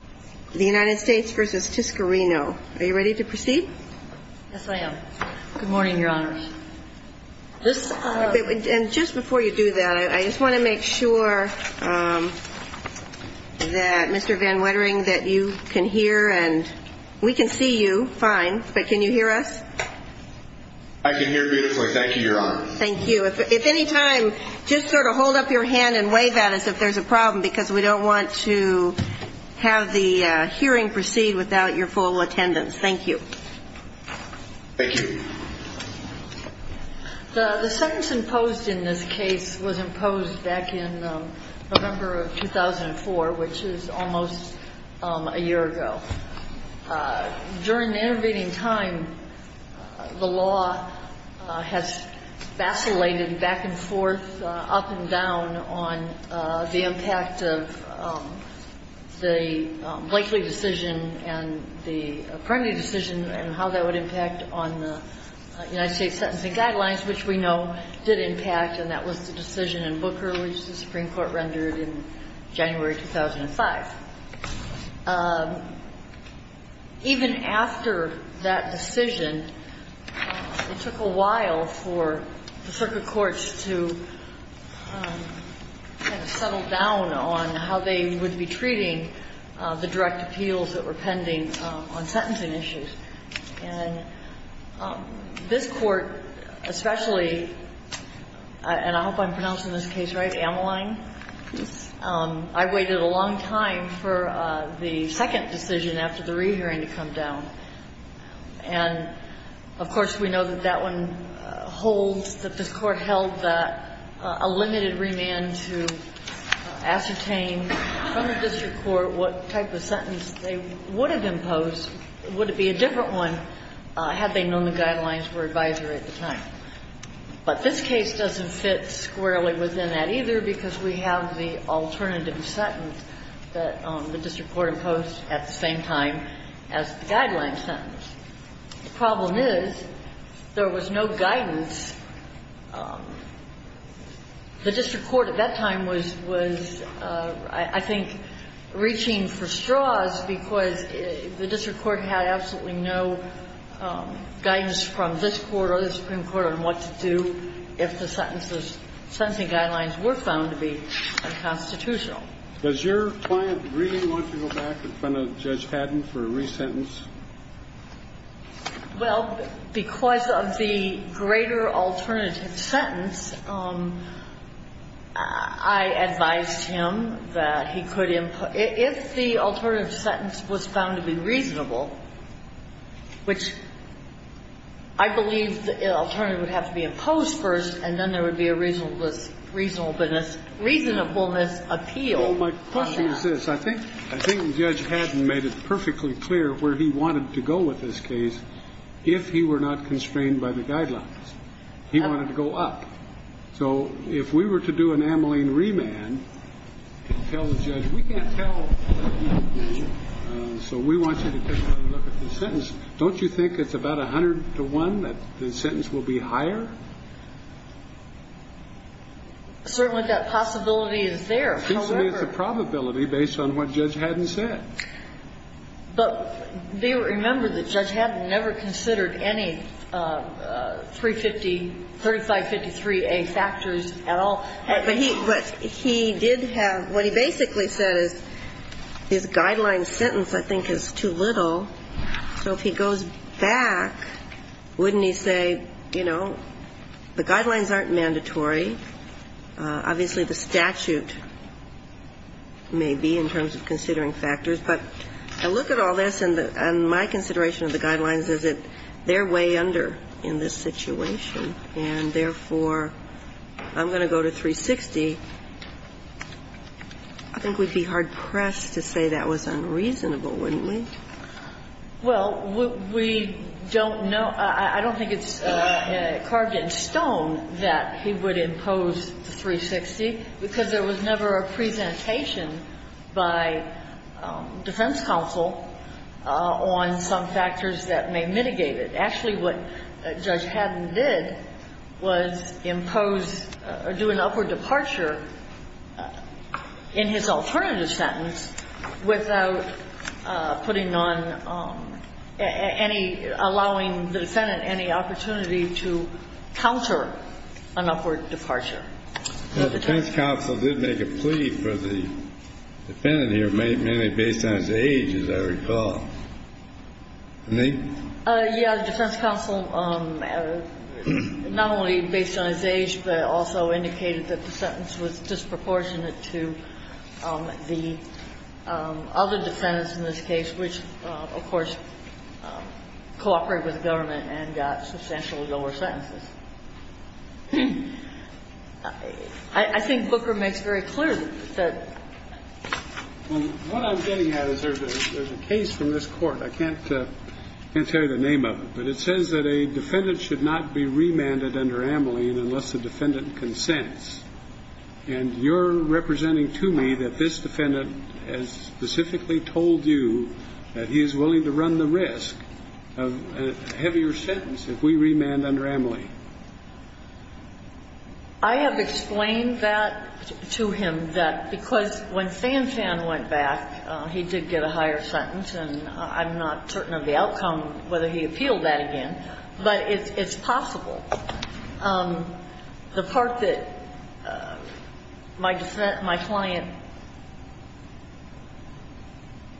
Are you ready to proceed? Yes, I am. Good morning, your honors. And just before you do that, I just want to make sure that Mr. Van Wettering, that you can hear and we can see you, fine, but can you hear us? I can hear beautifully, thank you, your honors. Thank you. If any time, just sort of hold up your hand and wave at us if there's a problem because we don't want to have that kind of conversation. And we will have the hearing proceed without your full attendance. Thank you. Thank you. The sentence imposed in this case was imposed back in November of 2004, which is almost a year ago. During the intervening time, the law has vacillated back and forth, up and down, on the impact of the Blakeley decision and the Primary decision and how that would impact on the United States Sentencing Guidelines, which we know did impact, and that was the decision in Booker, which the Supreme Court rendered in January 2005. Even after that decision, it took a while for the circuit courts to kind of settle down on how they would be treating the direct appeals that were pending on sentencing issues. And this Court, especially, and I hope I'm pronouncing this case right, Ameline, I waited a long time for the second decision after the rehearing to come down. And, of course, we know that that one holds that this Court held that a limited remand to ascertain from the district court what type of sentence they would have imposed, would it be a different one had they known the guidelines were advisory at the time. But this case doesn't fit squarely within that, either, because we have the alternative sentence that the district court imposed at the same time as the guideline sentence. The problem is there was no guidance. The district court at that time was, I think, reaching for straws, because the district court had absolutely no guidance from this Court or the Supreme Court on what to do if the sentences, sentencing guidelines were found to be unconstitutional. Kennedy Does your client agree, once you go back in front of Judge Haddon, for a re-sentence? Well, because of the greater alternative sentence, I advised him that he could impose – if the alternative sentence was found to be reasonable, which I believe the alternative would have to be imposed first and then there would be a reasonableness So my question is this. I think Judge Haddon made it perfectly clear where he wanted to go with this case if he were not constrained by the guidelines. He wanted to go up. So if we were to do an amyling remand and tell the judge, we can't tell. So we want you to take a look at the sentence. Don't you think it's about 100 to 1 that the sentence will be higher? Certainly that possibility is there. He said it's a probability based on what Judge Haddon said. But do you remember that Judge Haddon never considered any 350, 3553A factors at all? But he did have – what he basically said is his guideline sentence, I think, is too little. So if he goes back, wouldn't he say, you know, the guidelines aren't mandatory? Obviously, the statute may be in terms of considering factors. But I look at all this and my consideration of the guidelines is that they're way under in this situation, and therefore, I'm going to go to 360. I think we'd be hard-pressed to say that was unreasonable, wouldn't we? Well, we don't know – I don't think it's carved in stone that he would impose the 360, because there was never a presentation by defense counsel on some factors that may mitigate it. Actually, what Judge Haddon did was impose or do an upward departure in his alternative sentence without putting on any – allowing the defendant any opportunity to counter an upward departure. The defense counsel did make a plea for the defendant here, mainly based on his age, as I recall. Me? Yeah. The defense counsel not only based on his age, but also indicated that the sentence was disproportionate to the other defendants in this case, which, of course, cooperate with the government and got substantially lower sentences. I think Booker makes very clear that the – Well, what I'm getting at is there's a case from this Court. I can't tell you the name of it, but it says that a defendant should not be remanded under Amelie unless the defendant consents. And you're representing to me that this defendant has specifically told you that he is willing to run the risk of a heavier sentence if we remand under Amelie. I have explained that to him, that because when Sanfan went back, he did get a higher sentence, and I'm not certain of the outcome, whether he appealed that again. But it's possible. The part that my client,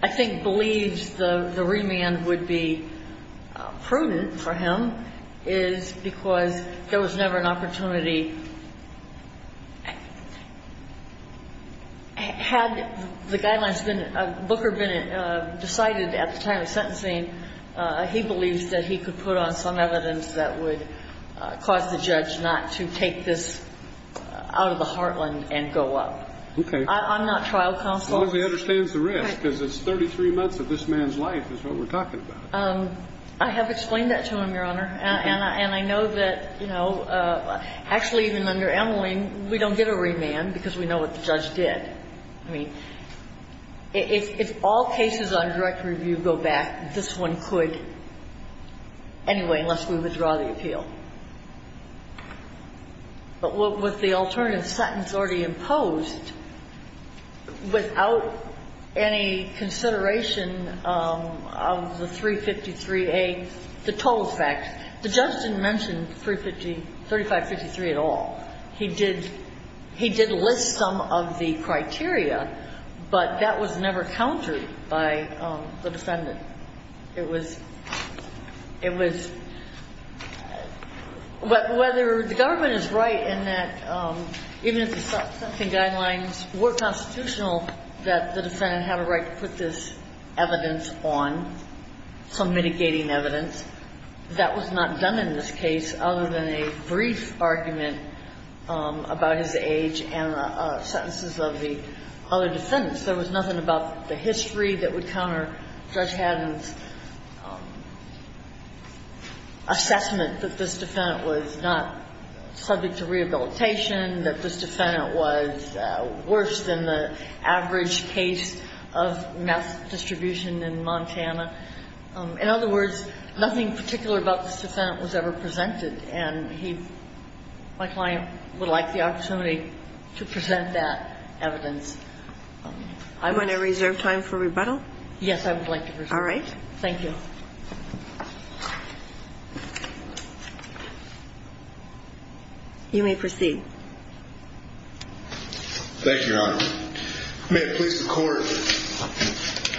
I think, believes the remand would be prudent for him is because there was never an opportunity. Had the guidelines been – Booker decided at the time of sentencing, he believes that he could put on some evidence that would cause the judge not to take this out of the heartland and go up. Okay. I'm not trial counsel. As long as he understands the risk, because it's 33 months of this man's life is what we're talking about. I have explained that to him, Your Honor. And I know that, you know, actually, even under Amelie, we don't get a remand because we know what the judge did. I mean, if all cases on direct review go back, this one could anyway, unless we withdraw the appeal. But with the alternative sentence already imposed, without any consideration of the 353A, the toll effect, the judge didn't mention 3553 at all. He did list some of the criteria, but that was never countered by the defendant. It was – it was – whether the government is right in that even if the sentencing guidelines were constitutional, that the defendant had a right to put this evidence on, some mitigating evidence, that was not done in this case other than a brief argument about his age and the sentences of the other defendants. There was nothing about the history that would counter Judge Haddon's assessment that this defendant was not subject to rehabilitation, that this defendant was worse than the average case of meth distribution in Montana. In other words, nothing particular about this defendant was ever presented, and he – my client would like the opportunity to present that evidence. I'm going to reserve time for rebuttal. Yes, I would like to present. All right. You may proceed. Thank you, Your Honor. May it please the Court,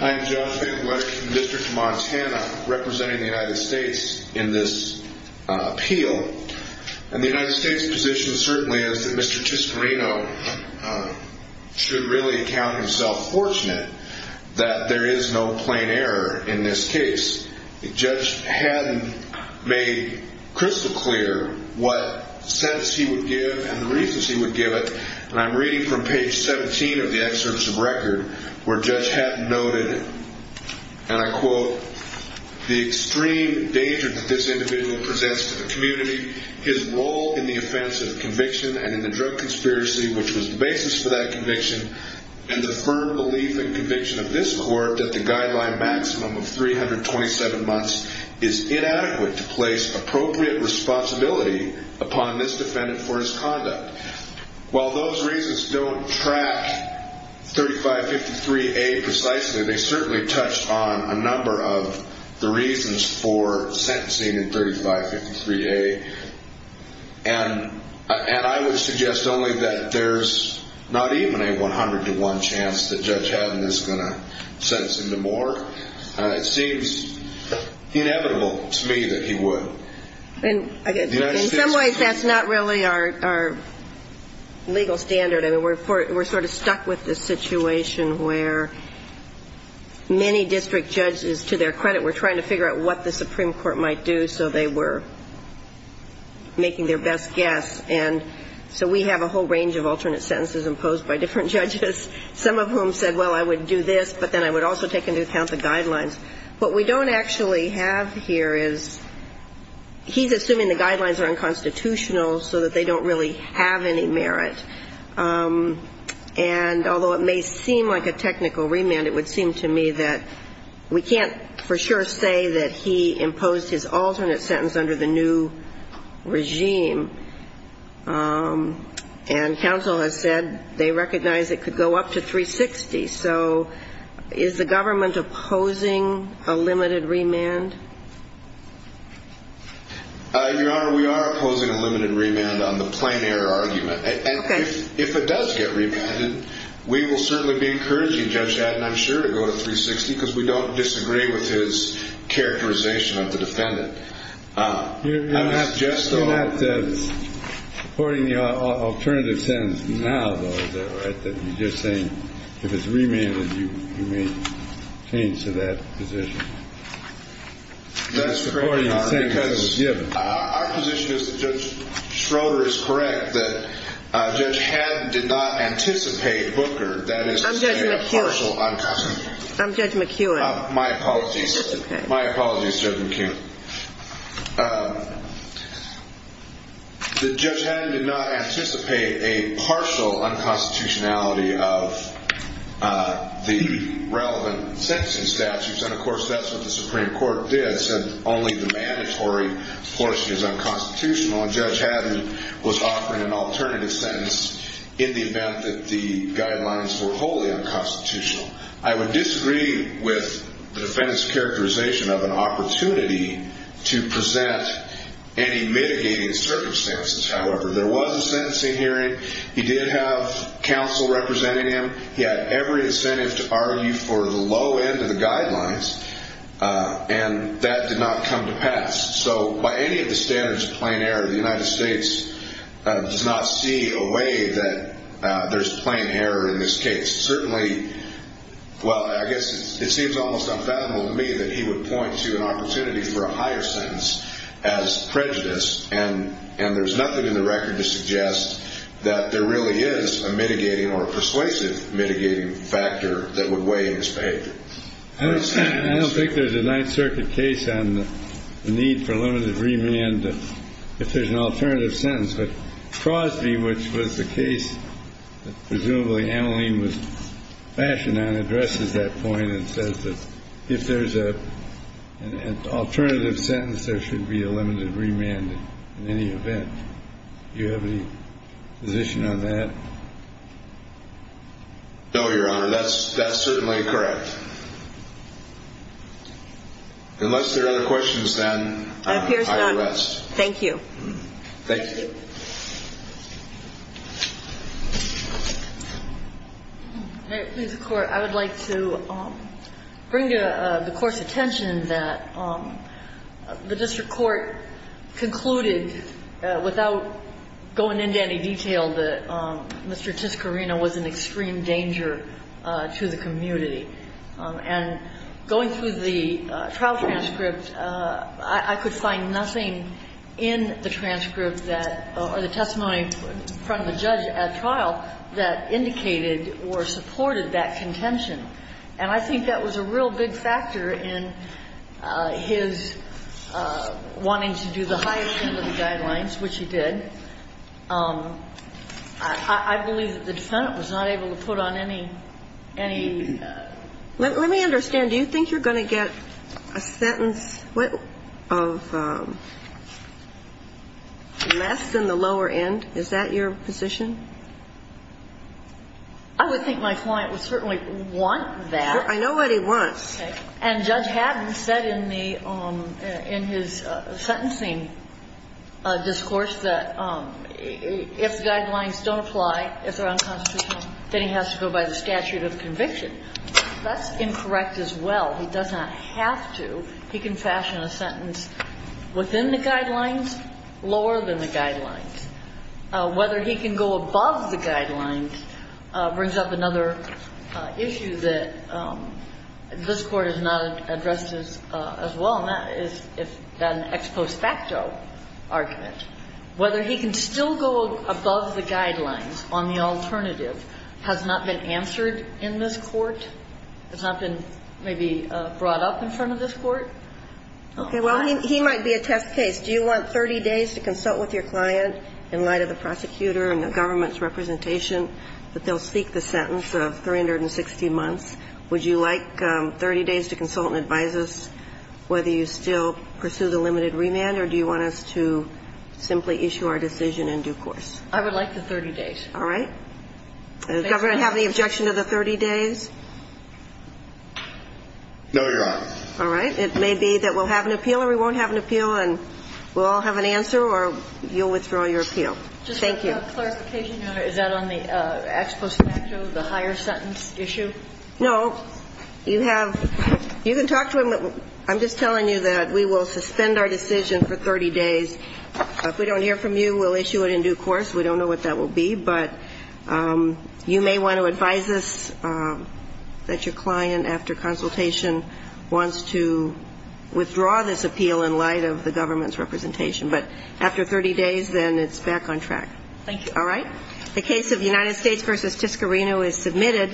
I am John Finkler from the District of Montana, representing the United States in this appeal. And the United States' position certainly is that Mr. Tiscarino should really count himself fortunate that there is no plain error in this case. Judge Haddon made crystal clear what sentence he would give and the reasons he put forth. And I'm going to quote from page 15 of the excerpts of record where Judge Haddon noted, and I quote, the extreme danger that this individual presents to the community, his role in the offense of conviction and in the drug conspiracy, which was the basis for that conviction, and the firm belief and conviction of this Court that the guideline maximum of 327 months is inadequate to place appropriate responsibility upon this individual. When the Court tracked 3553A precisely, they certainly touched on a number of the reasons for sentencing in 3553A. And I would suggest only that there's not even a 100 to 1 chance that Judge Haddon is going to sentence him to more. It seems inevitable to me that he would. In some ways, that's not really our legal standard. I mean, we're sort of stuck with this situation where many district judges, to their credit, were trying to figure out what the Supreme Court might do so they were making their best guess. And so we have a whole range of alternate sentences imposed by different judges, some of whom said, well, I would do this, but then I would also take into account the guidelines. What we don't actually have here is he's assuming the guidelines are unconstitutional so that they don't really have any merit. And although it may seem like a technical remand, it would seem to me that we can't for sure say that he imposed his alternate sentence under the new regime. And counsel has said they recognize it could go up to 360. So is the government opposing a limited remand? Your Honor, we are opposing a limited remand on the plein air argument. And if it does get remanded, we will certainly be encouraging Judge Adden, I'm sure, to go to 360 because we don't disagree with his characterization of the defendant. You're not supporting the alternative sentence now, though, is that right? You're just saying if it's remanded, you may change to that position. That's correct, Your Honor, because our position is that Judge Schroeder is correct, that Judge Adden did not anticipate Booker, that is to say a partial unconstitutionality. I'm Judge McEwen. My apologies. My apologies, Judge McEwen. That Judge Adden did not anticipate a partial unconstitutionality of the relevant sentencing statutes, and, of course, that's what the Supreme Court did, said only the mandatory portion is unconstitutional. And Judge Adden was offering an alternative sentence in the event that the guidelines were wholly unconstitutional. I would disagree with the defendant's characterization of an opportunity to present any mitigating circumstances. However, there was a sentencing hearing. He did have counsel representing him. He had every incentive to argue for the low end of the guidelines, and that did not come to pass. So by any of the standards of plain error, the United States does not see a way that there's plain error in this case. Certainly, well, I guess it seems almost unfathomable to me that he would point to an opportunity for a higher sentence as prejudice, and there's nothing in the mitigating factor that would weigh in his behavior. I don't think there's a Ninth Circuit case on the need for limited remand if there's an alternative sentence. But Crosby, which was the case that presumably Ameline was fashioned on, addresses that point and says that if there's an alternative sentence, there should be a limited remand in any event. Do you have any position on that? No, Your Honor. That's certainly correct. Unless there are other questions, then I will rest. Thank you. Thank you. All right. Mr. Court, I would like to bring to the Court's attention that the district court concluded, without going into any detail, that Mr. Tiscarino was an extreme danger to the community. And going through the trial transcript, I could find nothing in the transcript that or the testimony in front of the judge at trial that indicated or supported that contention. And I think that was a real big factor in his wanting to do the highest end of the guidelines, which he did. I believe that the defendant was not able to put on any, any ---- Let me understand. Do you think you're going to get a sentence of less than the lower end? Is that your position? I would think my client would certainly want that. I know what he wants. Okay. And Judge Haddon said in the ---- in his sentencing discourse that if the guidelines don't apply, if they're unconstitutional, then he has to go by the statute of conviction. That's incorrect as well. He does not have to. He can fashion a sentence within the guidelines, lower than the guidelines. Whether he can go above the guidelines brings up another issue that this Court has not addressed as well, and that is an ex post facto argument. Whether he can still go above the guidelines on the alternative has not been answered in this Court. It's not been maybe brought up in front of this Court. Okay. Well, he might be a test case. Do you want 30 days to consult with your client in light of the prosecutor and the government's representation that they'll seek the sentence of 360 months? Would you like 30 days to consult and advise us whether you still pursue the limited remand, or do you want us to simply issue our decision in due course? I would like the 30 days. All right. Does the government have any objection to the 30 days? No, Your Honor. All right. It may be that we'll have an appeal or we won't have an appeal and we'll all have an answer or you'll withdraw your appeal. Thank you. Just a clarification, Your Honor. Is that on the ex post facto, the higher sentence issue? No. You have you can talk to him. I'm just telling you that we will suspend our decision for 30 days. If we don't hear from you, we'll issue it in due course. We don't know what that will be, but you may want to advise us that your client, after consultation, wants to withdraw this appeal in light of the government's representation. But after 30 days, then it's back on track. Thank you. All right. The case of United States v. Tiscarino is submitted.